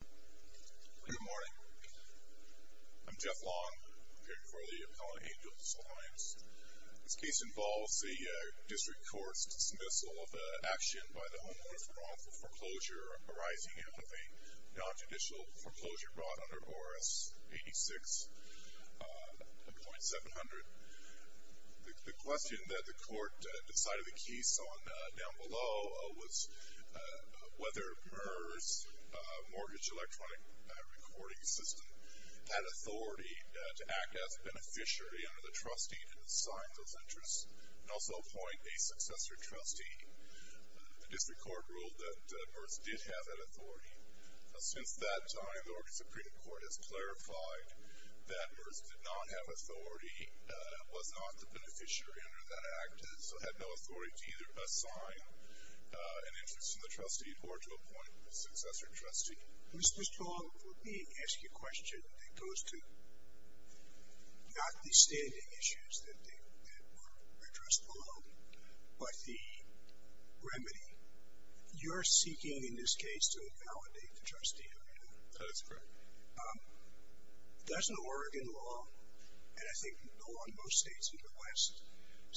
Good morning. I'm Jeff Long, preparing for the Appellant Angels Alliance. This case involves the District Court's dismissal of an action by the Homeowner for wrongful foreclosure arising out of a non-judicial foreclosure brought under ORS 86.700. The question that the Court decided the case on down below was whether MERS, Mortgage Electronic Recording System, had authority to act as a beneficiary under the trustee and assign those interests and also appoint a successor trustee. The District Court ruled that MERS did have that authority. Since that time, the Oregon Supreme Court has clarified that MERS did not have authority and was not the beneficiary under that act, has had no authority to either assign an interest to the trustee or to appoint a successor trustee. Mr. Long, for me, I ask you a question that goes to not the standing issues that were addressed below, but the remedy. You're seeking, in this case, to invalidate the trustee arena. That is correct. Doesn't Oregon law, and I think the law in most states in the West,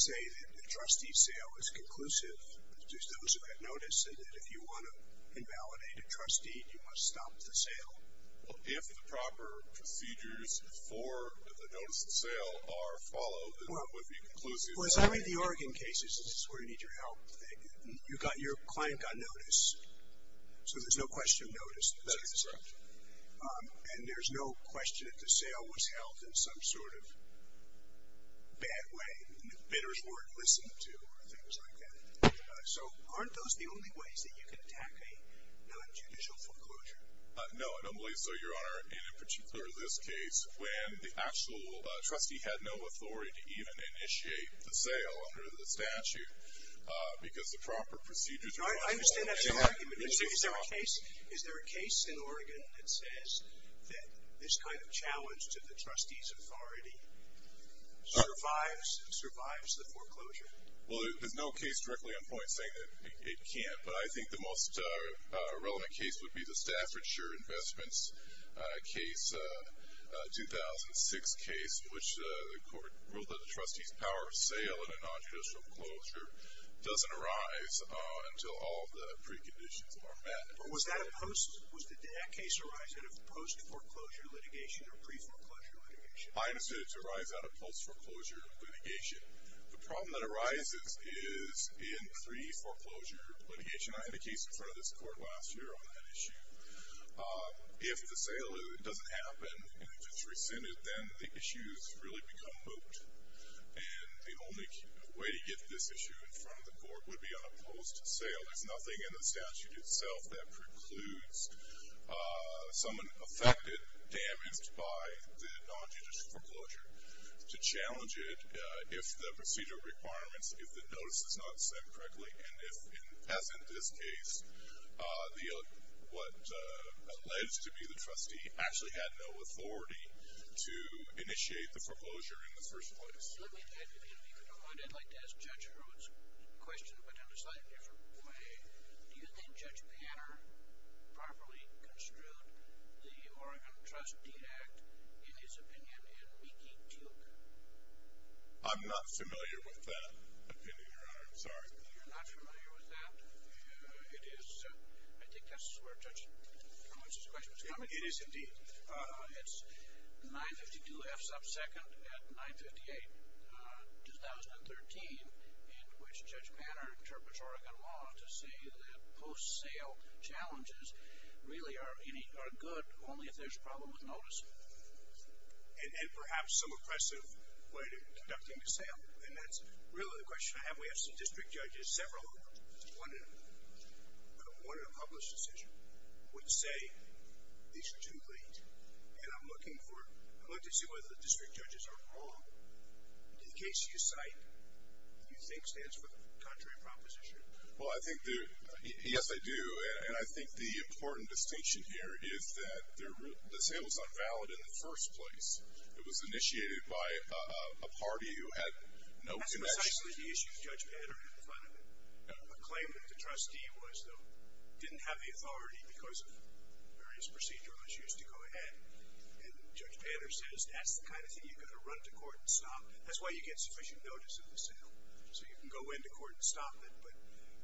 say that the trustee sale is conclusive to those who have notice and that if you want to invalidate a trustee, you must stop the sale? If the proper procedures for the notice of sale are followed, it would be conclusive. Well, as I read the Oregon cases, this is where you need your help. Your client got notice, so there's no question of notice. That is correct. And there's no question that the sale was held in some sort of bad way, the bidder's word listened to, or things like that. So aren't those the only ways that you can attack a nonjudicial foreclosure? No, and I believe so, Your Honor, and in particular this case, when the actual trustee had no authority to even initiate the sale under the statute because the proper procedures were followed. I understand that's your argument. Is there a case in Oregon that says that this kind of challenge to the trustee's authority survives the foreclosure? Well, there's no case directly on point saying that it can't, but I think the most relevant case would be the Staffordshire Investments case, a 2006 case in which the court ruled that the trustee's power of sale in a nonjudicial foreclosure doesn't arise until all the preconditions are met. Was that a post or did that case arise out of post-foreclosure litigation or pre-foreclosure litigation? I understood it to arise out of post-foreclosure litigation. The problem that arises is in pre-foreclosure litigation. I had a case in front of this court last year on that issue. If the sale doesn't happen and if it's rescinded, then the issues really become moot, and the only way to get this issue in front of the court would be on a post sale. There's nothing in the statute itself that precludes someone affected, damaged by the nonjudicial foreclosure to challenge it if the procedure requirements, if the notice is not sent correctly, and if, as in this case, what alleged to be the trustee actually had no authority to initiate the foreclosure in the first place. I'd like to ask Judge Hurwitz a question, but in a slightly different way. Do you think Judge Panner properly construed the Oregon Trustee Act, in his opinion, in Mickey Duke? I'm not familiar with that opinion, Your Honor. I'm sorry. You're not familiar with that? It is, I think that's where Judge Hurwitz's question was coming from. It is, indeed. It's 952 F sub second at 958, 2013, in which Judge Panner interprets Oregon law to say that post sale challenges really are good only if there's a problem with notice. And perhaps some oppressive way to conducting the sale, and that's really the question I have. We have some district judges, several of them, who wanted a published decision, would say these are too late, and I'm looking to see whether the district judges are wrong. In the case you cite, do you think stands for the contrary proposition? Well, I think that, yes, I do, and I think the important distinction here is that the sale was not valid in the first place. It was initiated by a party who had no connection. That's precisely the issue Judge Panner had in front of him. A claim that the trustee was, though, didn't have the authority because of various procedurals used to go ahead, and Judge Panner says that's the kind of thing you've got to run to court and stop. That's why you get sufficient notice of the sale, so you can go into court and stop it, but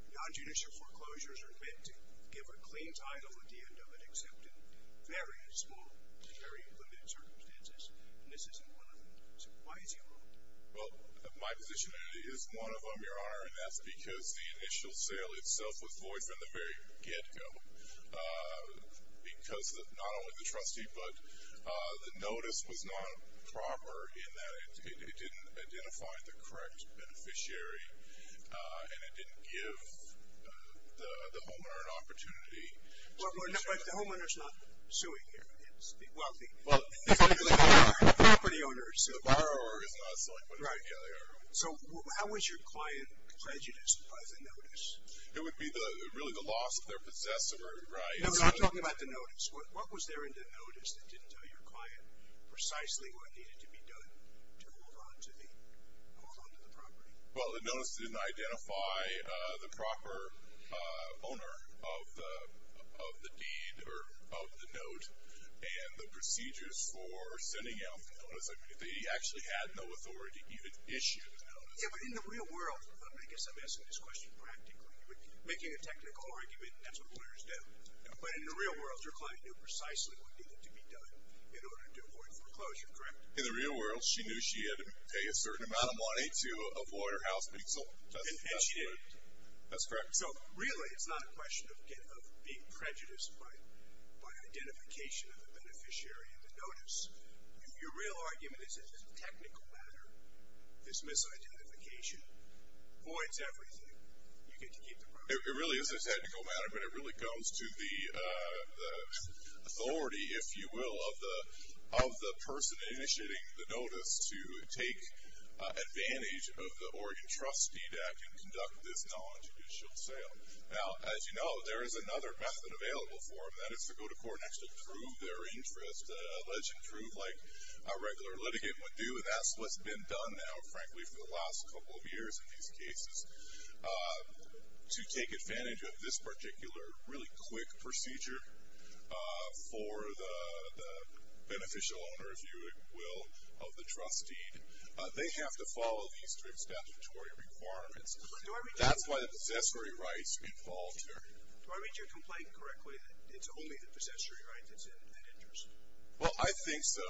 nonjudicial foreclosures are meant to give a clean title at the end of it, except in very small, very limited circumstances, and this isn't one of them. So why is he wrong? Well, my position is one of them, Your Honor, and that's because the initial sale itself was voiced in the very get-go because not only the trustee, but the notice was not proper in that it didn't identify the correct beneficiary and it didn't give the homeowner an opportunity. Well, but the homeowner's not suing here. Well, the property owner is suing. The borrower is not suing. Right. So how was your client prejudiced by the notice? It would be really the loss of their possessor, right? No, I'm talking about the notice. What was there in the notice that didn't tell your client precisely what needed to be done to hold on to the property? Well, the notice didn't identify the proper owner of the deed or of the note and the procedures for sending out the notice. They actually had no authority to even issue the notice. Yeah, but in the real world, I guess I'm asking this question practically. Making a technical argument, that's what lawyers do. But in the real world, your client knew precisely what needed to be done in order to avoid foreclosure, correct? In the real world, she knew she had to pay a certain amount of money to avoid her house being sold. And she didn't. That's correct. So really, it's not a question of being prejudiced by identification of the beneficiary in the notice. Your real argument is that in a technical matter, this misidentification avoids everything. You get to keep the property. It really isn't a technical matter, but it really comes to the authority, if you will, of the person initiating the notice to take advantage of the Oregon trust deed that can conduct this nonjudicial sale. Now, as you know, there is another method available for them, and that is to go to court and actually prove their interest, allegedly prove like a regular litigant would do, and that's what's been done now, frankly, for the last couple of years in these cases, to take advantage of this particular really quick procedure for the beneficial owner, if you will, of the trust deed. They have to follow these three statutory requirements. That's why the possessory rights are involved here. Do I read your complaint correctly, that it's only the possessory rights that's at interest? Well, I think so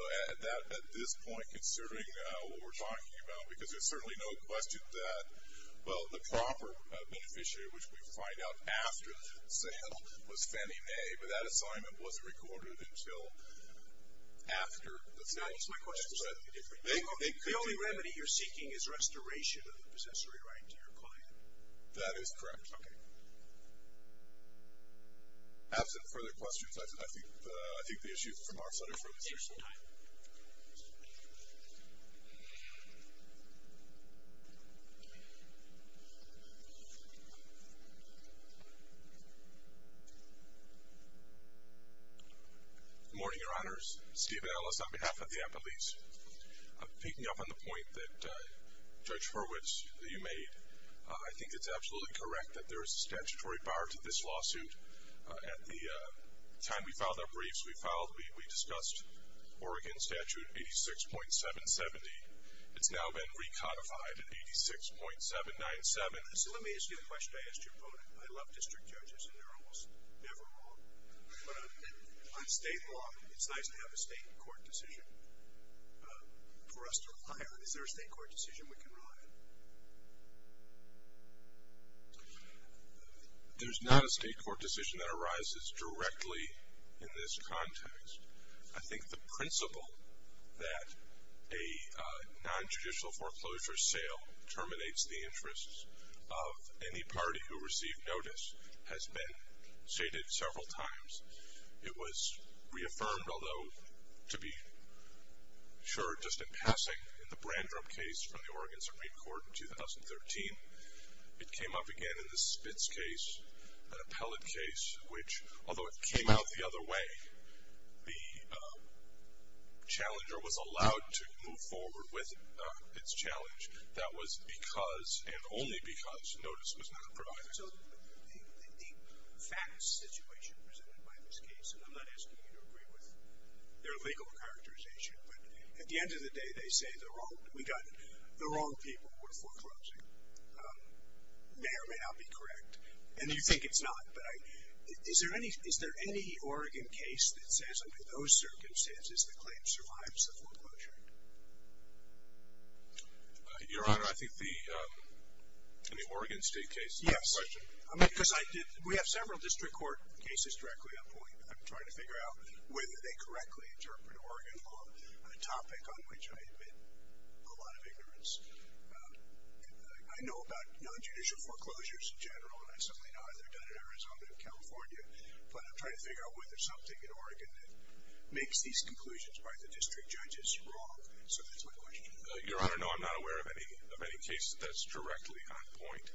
at this point, considering what we're talking about, because there's certainly no question that, well, the proper beneficiary, which we find out after the sale, was Fannie Mae, but that assignment wasn't recorded until after the sale. My question is slightly different. The only remedy you're seeking is restoration of the possessory right to your client. That is correct. Okay. Absent further questions, I think the issue is from our side. Thank you for your time. Good morning, Your Honors. Steve Ellis on behalf of the Appellees. Picking up on the point that Judge Hurwitz, that you made, I think it's absolutely correct that there is a statutory bar to this lawsuit. At the time we filed our briefs, we discussed Oregon Statute 86.770. It's now been recodified at 86.797. So let me ask you a question I asked your opponent. I love district judges, and they're almost never wrong. But on state law, it's nice to have a state court decision for us to rely on. There's not a state court decision that arises directly in this context. I think the principle that a non-judicial foreclosure sale terminates the interests of any party who received notice has been stated several times. It was reaffirmed, although to be sure, just in passing, in the Brandrup case from the Oregon Supreme Court in 2013. It came up again in the Spitz case, an appellate case, which although it came out the other way, the challenger was allowed to move forward with its challenge. That was because, and only because, notice was not provided. So the facts situation presented by this case, and I'm not asking you to agree with their legal characterization, but at the end of the day, they say the wrong people were foreclosing. It may or may not be correct, and you think it's not, but is there any Oregon case that says under those circumstances the claim survives the foreclosure? Your Honor, I think the Oregon State case is the question. Yes, because we have several district court cases directly on point. I'm trying to figure out whether they correctly interpret Oregon law, a topic on which I admit a lot of ignorance. I know about nonjudicial foreclosures in general, and I certainly know how they're done in Arizona and California, but I'm trying to figure out whether something in Oregon makes these conclusions by the district judges wrong. So that's my question. Your Honor, no, I'm not aware of any case that's directly on point.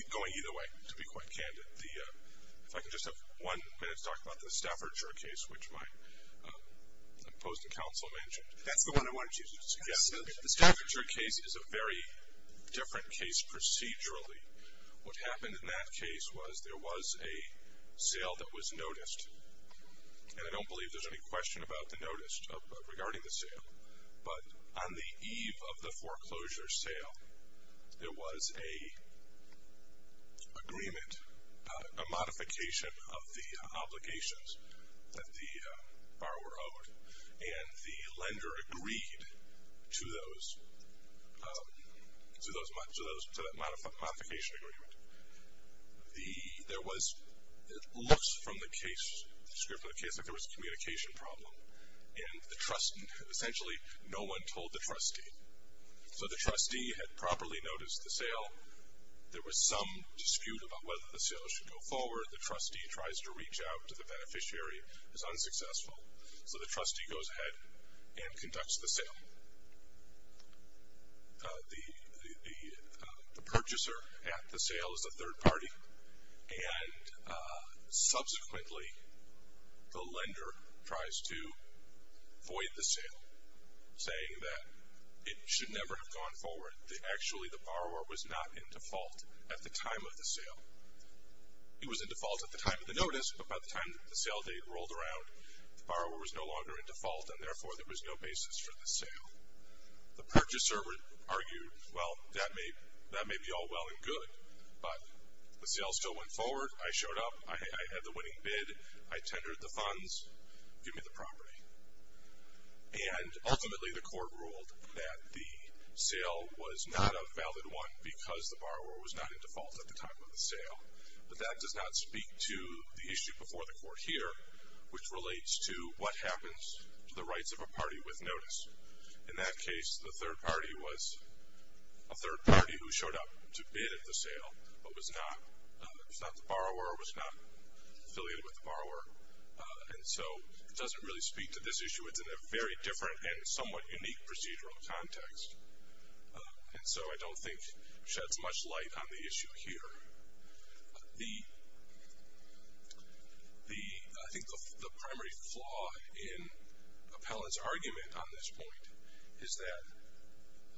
Going either way, to be quite candid, if I could just have one minute to talk about the Staffordshire case, which my opposing counsel mentioned. That's the one I wanted you to suggest. The Staffordshire case is a very different case procedurally. What happened in that case was there was a sale that was noticed, and I don't believe there's any question about the notice regarding the sale, but on the eve of the foreclosure sale, there was an agreement, a modification of the obligations that the borrower owed, and the lender agreed to those, to that modification agreement. There was, it looks from the script of the case, like there was a communication problem, and essentially no one told the trustee. So the trustee had properly noticed the sale. There was some dispute about whether the sale should go forward. The trustee tries to reach out to the beneficiary. It's unsuccessful, so the trustee goes ahead and conducts the sale. The purchaser at the sale is a third party, and subsequently the lender tries to void the sale, saying that it should never have gone forward. Actually, the borrower was not in default at the time of the sale. He was in default at the time of the notice, but by the time the sale date rolled around, the borrower was no longer in default, and, therefore, there was no basis for the sale. The purchaser argued, well, that may be all well and good, but the sale still went forward. I showed up. I had the winning bid. I tendered the funds. Give me the property. And, ultimately, the court ruled that the sale was not a valid one because the borrower was not in default at the time of the sale, but that does not speak to the issue before the court here, which relates to what happens to the rights of a party with notice. In that case, the third party was a third party who showed up to bid at the sale but was not the borrower, was not affiliated with the borrower, and so it doesn't really speak to this issue. It's in a very different and somewhat unique procedural context, and so I don't think sheds much light on the issue here. The, I think the primary flaw in Appellant's argument on this point is that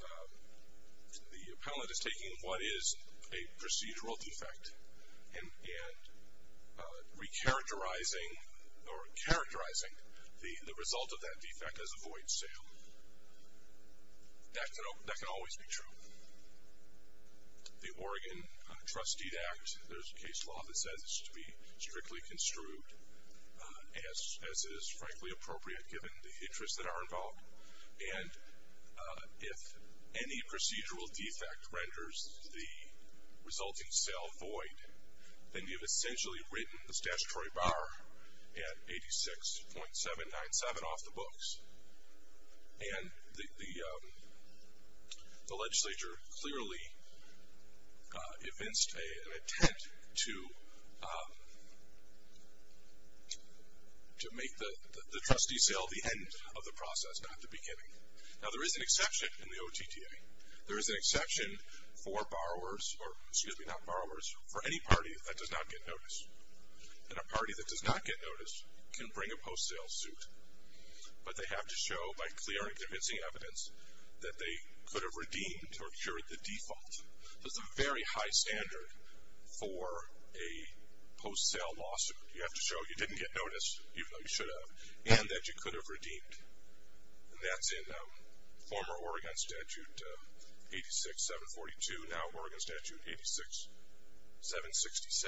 the Appellant is taking what is a procedural defect and recharacterizing or characterizing the result of that defect as a void sale. That can always be true. The Oregon Trusteed Act, there's a case law that says it's to be strictly construed, as it is, frankly, appropriate given the interests that are involved. And if any procedural defect renders the resulting sale void, then you've essentially written the statutory borrower at 86.797 off the books. And the legislature clearly evinced an intent to make the trustee sale the end of the process, not the beginning. Now, there is an exception in the OTTA. There is an exception for borrowers, or excuse me, not borrowers, for any party that does not get notice. And a party that does not get notice can bring a post-sale suit, but they have to show by clear and convincing evidence that they could have redeemed or cured the default. That's a very high standard for a post-sale lawsuit. You have to show you didn't get notice, even though you should have, and that you could have redeemed. And that's in former Oregon Statute 86.742, now Oregon Statute 86.767.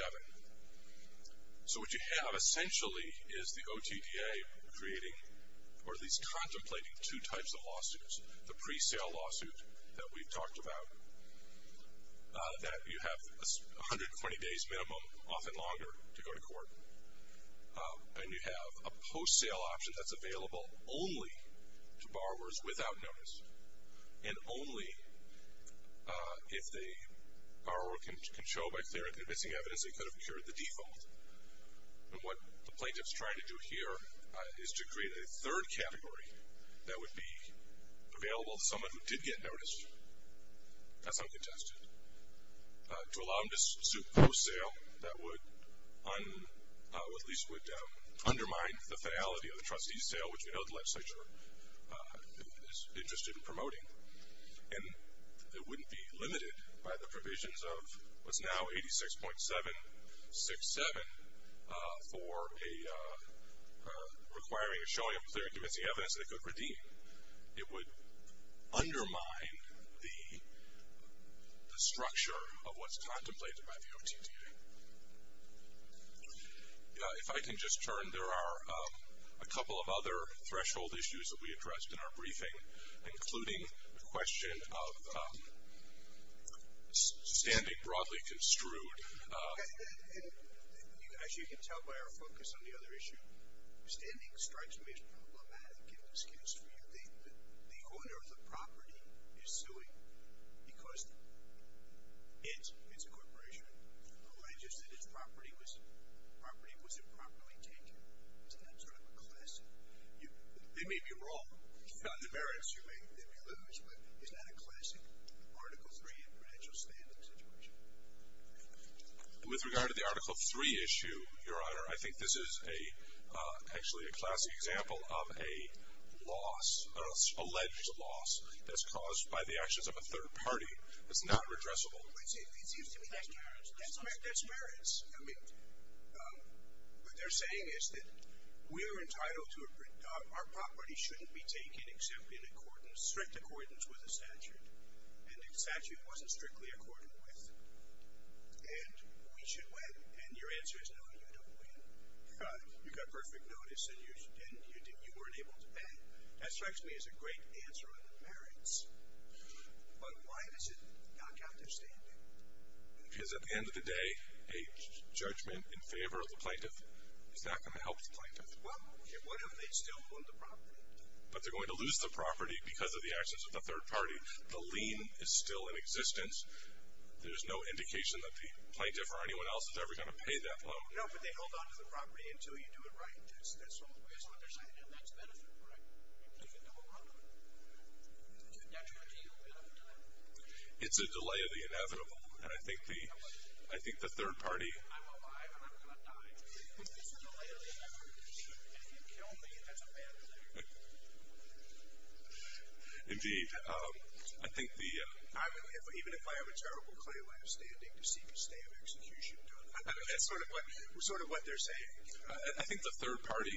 So what you have essentially is the OTTA creating or at least contemplating two types of lawsuits. The pre-sale lawsuit that we've talked about, that you have 120 days minimum, often longer, to go to court. And you have a post-sale option that's available only to borrowers without notice, and only if the borrower can show by clear and convincing evidence that they could have cured the default. And what the plaintiff's trying to do here is to create a third category that would be available to someone who did get notice. That's uncontested. To allow them to suit post-sale, that would at least undermine the finality of the trustee's sale, which we know the legislature is interested in promoting. And it wouldn't be limited by the provisions of what's now 86.767 for requiring a showing of clear and convincing evidence that it could redeem. It would undermine the structure of what's contemplated by the OTTA. If I can just turn, there are a couple of other threshold issues that we addressed in our briefing, including the question of standing broadly construed. And as you can tell by our focus on the other issue, standing strikes me as problematic and an excuse for you. The owner of the property is suing because its corporation alleges that its property was improperly taken. Isn't that sort of a classic? They may be wrong on the merits you may lose, but isn't that a classic Article III and credential standing situation? With regard to the Article III issue, Your Honor, I think this is actually a classic example of a loss, an alleged loss that's caused by the actions of a third party that's not redressable. It seems to me that's merits. That's merits. I mean, what they're saying is that our property shouldn't be taken except in strict accordance with the statute. And the statute wasn't strictly accorded with. And we should win. And your answer is no, you don't win. You got perfect notice and you weren't able to pay. That strikes me as a great answer on the merits. But why does it knock out their standing? Because at the end of the day, a judgment in favor of the plaintiff is not going to help the plaintiff. Well, what if they still own the property? But they're going to lose the property because of the actions of the third party. The lien is still in existence. There's no indication that the plaintiff or anyone else is ever going to pay that loan. No, but they hold onto the property until you do it right. That's all the way on their side. And that's benefit, right? You can go around them. That's what you do all the time. It's a delay of the inevitable. And I think the third party. I'm alive and I'm not dying. It's a delay of the inevitable. And if you kill me, that's a bad thing. Indeed. I think the. Even if I have a terrible claim, I'm standing to seek a stay of execution. That's sort of what they're saying. I think the third party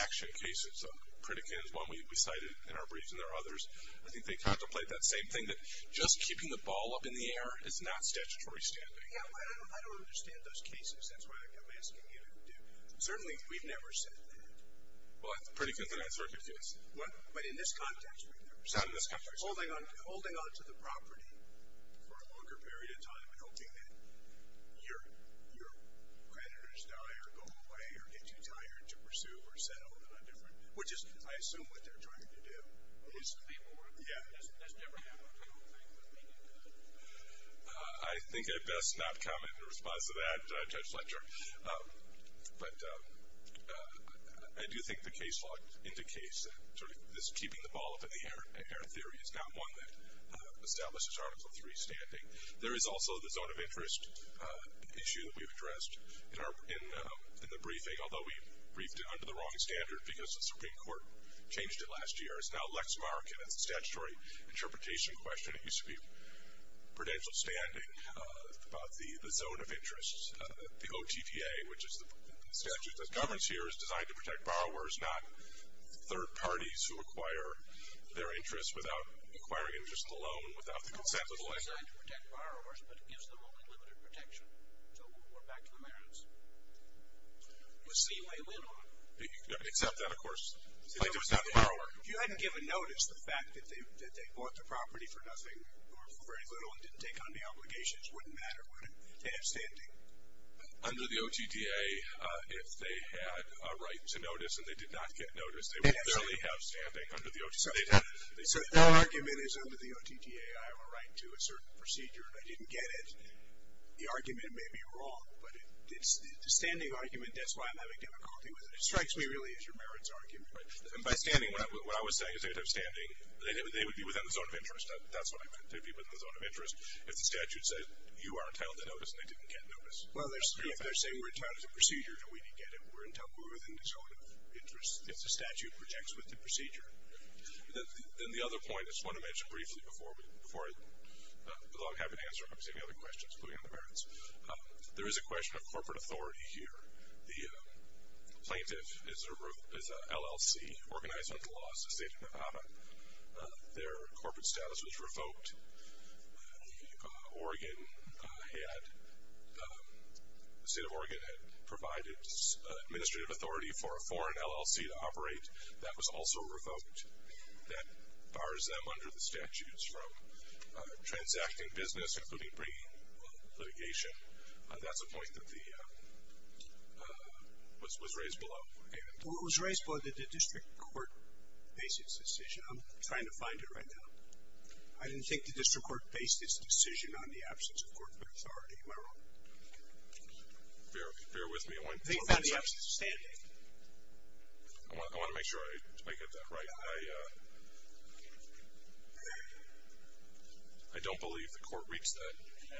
action cases, Pritikin is one we cited in our briefs and there are others. I think they contemplate that same thing, that just keeping the ball up in the air is not statutory standing. Yeah, but I don't understand those cases. That's why I'm asking you to do. Certainly, we've never said that. Well, Pritikin's an answer I could give. But in this context, we've never said that. In this context. Holding onto the property for a longer period of time and hoping that your creditors die or go away or get too tired to pursue or settle in a different. Which is, I assume, what they're trying to do. It used to be more. Yeah. That's never happened. I think I best not comment in response to that, Judge Fletcher. But I do think the case law indicates that sort of this keeping the ball up in the air theory is not one that establishes Article III standing. There is also the zone of interest issue that we've addressed in the briefing, although we briefed it under the wrong standard because the Supreme Court changed it last year. It's now Lexmark, and it's a statutory interpretation question. It used to be prudential standing about the zone of interest. The OTTA, which is the statute that governs here, is designed to protect borrowers, not third parties who acquire their interests without acquiring interest in the loan, without the consent of the lender. It's designed to protect borrowers, but it gives them only limited protection. So we'll go back to the merits. Let's see if I win on it. Accept that, of course. If you hadn't given notice, the fact that they bought the property for nothing or for very little and didn't take on the obligations wouldn't matter, would it? They have standing. Under the OTTA, if they had a right to notice and they did not get notice, they would barely have standing under the OTTA. So the argument is under the OTTA, I have a right to a certain procedure and I didn't get it. The argument may be wrong, but the standing argument, that's why I'm having difficulty with it. It strikes me really as your merits argument. Right. And by standing, what I was saying is they have standing. They would be within the zone of interest. That's what I meant. They'd be within the zone of interest if the statute said you are entitled to notice and they didn't get notice. Well, if they're saying we're entitled to the procedure and we didn't get it, we're in trouble. We're within the zone of interest if the statute projects with the procedure. Then the other point I just want to mention briefly before I have to answer any other questions, including the merits, there is a question of corporate authority here. The plaintiff is an LLC, organized under the laws of the state of Nevada. Their corporate status was revoked. The Oregon had, the state of Oregon had provided administrative authority for a foreign LLC to operate. That was also revoked. That bars them under the statutes from transacting business, including bringing litigation. That's a point that was raised below. It was raised below that the district court based its decision. I'm trying to find it right now. I didn't think the district court based its decision on the absence of corporate authority. Am I wrong? Bear with me. I want to make sure I get that right. I don't believe the court reached that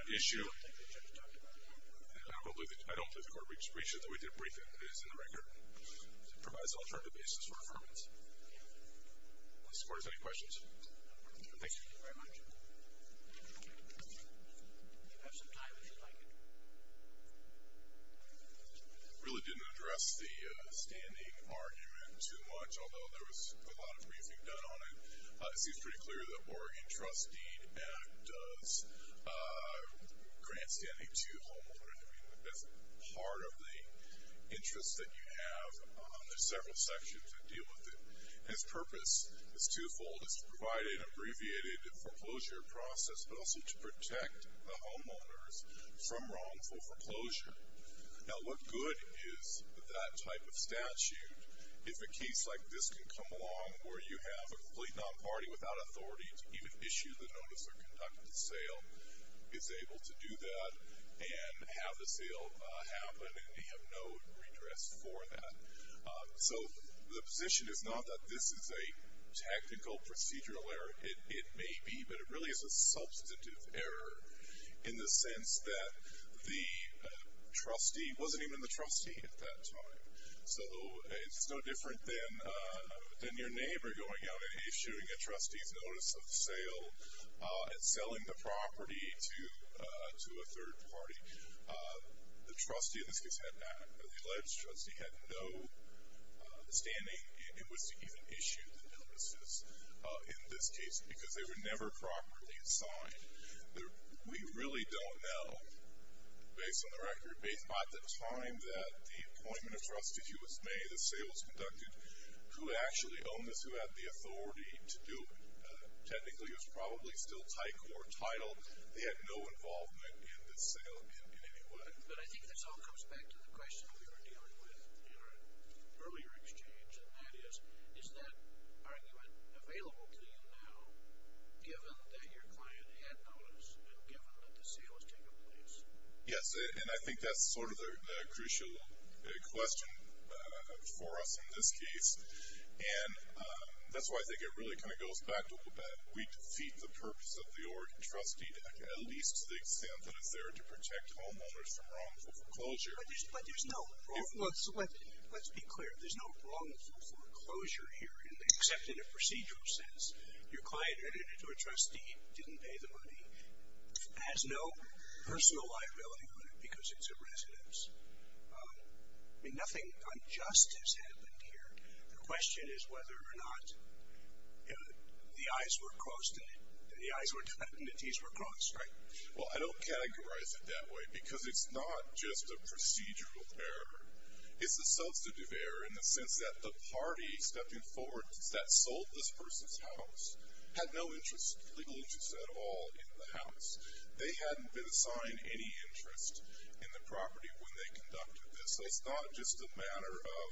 issue. I don't believe the court reached it. We did a briefing. It is in the record. It provides an alternative basis for affirmance. Mr. Court, any questions? Thank you very much. You have some time if you'd like. I really didn't address the standing argument too much, although there was a lot of briefing done on it. It seems pretty clear that Oregon trust deed does grant standing to homeowners. I mean, that's part of the interest that you have. There's several sections that deal with it. Its purpose is twofold. It's to provide an abbreviated foreclosure process, but also to protect the homeowners from wrongful foreclosure. Now, what good is that type of statute if a case like this can come along where you have a complete non-party without authority to even issue the notice or conduct the sale, is able to do that and have the sale happen and have no redress for that? So the position is not that this is a technical procedural error. It may be, but it really is a substantive error in the sense that the trustee wasn't even the trustee at that time. So it's no different than your neighbor going out and issuing a trustee's notice of sale and selling the property to a third party. The trustee in this case had not, or the alleged trustee had no standing in which to even issue the notices in this case because they were never properly signed. We really don't know, based on the record, based on the time that the appointment of trustee was made, the sale was conducted, who actually owned this, who had the authority to do it, technically it was probably still TICOR title. They had no involvement in this sale in any way. But I think this all comes back to the question we were dealing with in our earlier exchange, and that is, is that argument available to you now, given that your client had notice and given that the sale has taken place? Yes, and I think that's sort of the crucial question for us in this case. And that's why I think it really kind of goes back to the fact that we defeat the purpose of the Oregon trustee, at least to the extent that it's there to protect homeowners from wrongful foreclosure. But there's no wrongful foreclosure here, except in a procedural sense. Your client edited to a trustee, didn't pay the money, has no personal liability on it because it's a residence. I mean, nothing unjust has happened here. The question is whether or not the I's were crossed and the T's were crossed, right? Well, I don't categorize it that way, because it's not just a procedural error. It's a substantive error in the sense that the party stepping forward that sold this person's house had no legal interest at all in the house. They hadn't been assigned any interest in the property when they conducted this. So it's not just a matter of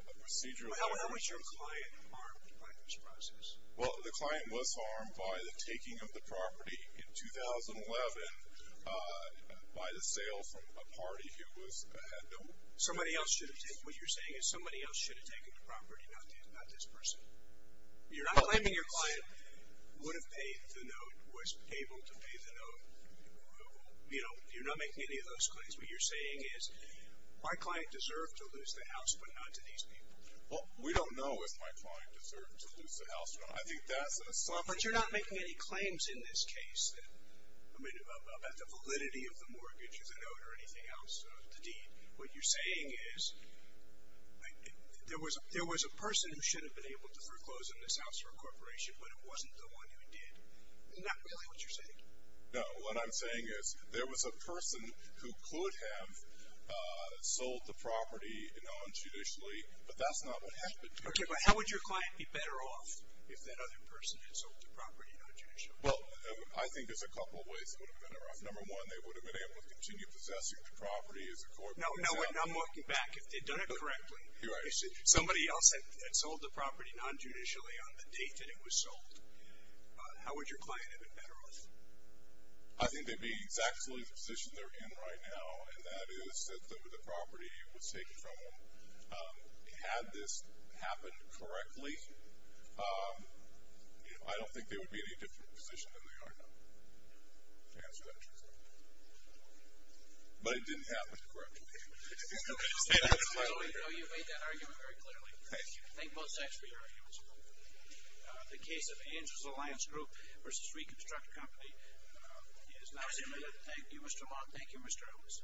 a procedural error. How was your client harmed by this process? Well, the client was harmed by the taking of the property in 2011 by the sale from a party who had no interest. What you're saying is somebody else should have taken the property, not this person? You're not claiming your client would have paid the note, was able to pay the note. You're not making any of those claims. What you're saying is my client deserved to lose the house, but not to these people. Well, we don't know if my client deserved to lose the house, but I think that's a substantive error. But you're not making any claims in this case about the validity of the mortgage or the note or anything else, the deed. What you're saying is there was a person who should have been able to foreclose on this house for a corporation, but it wasn't the one who did. Isn't that really what you're saying? No. What I'm saying is there was a person who could have sold the property non-judicially, but that's not what happened. Okay, but how would your client be better off if that other person had sold the property non-judicially? Well, I think there's a couple of ways it would have been better off. Number one, they would have been able to continue possessing the property as a corporate example. No, no, I'm looking back. If they'd done it correctly, if somebody else had sold the property non-judicially on the date that it was sold, how would your client have been better off? I think they'd be in exactly the position they're in right now, and that is that the property was taken from them. Had this happened correctly, I don't think they would be in any different position than they are now. I guess that's what I'm trying to say. But it didn't happen correctly. So you made that argument very clearly. Thank you. Thank both sides for your arguments. The case of Angel's Alliance Group v. Reconstruct Company is now submitted. Thank you, Mr. Long. Thank you, Mr. Ellis.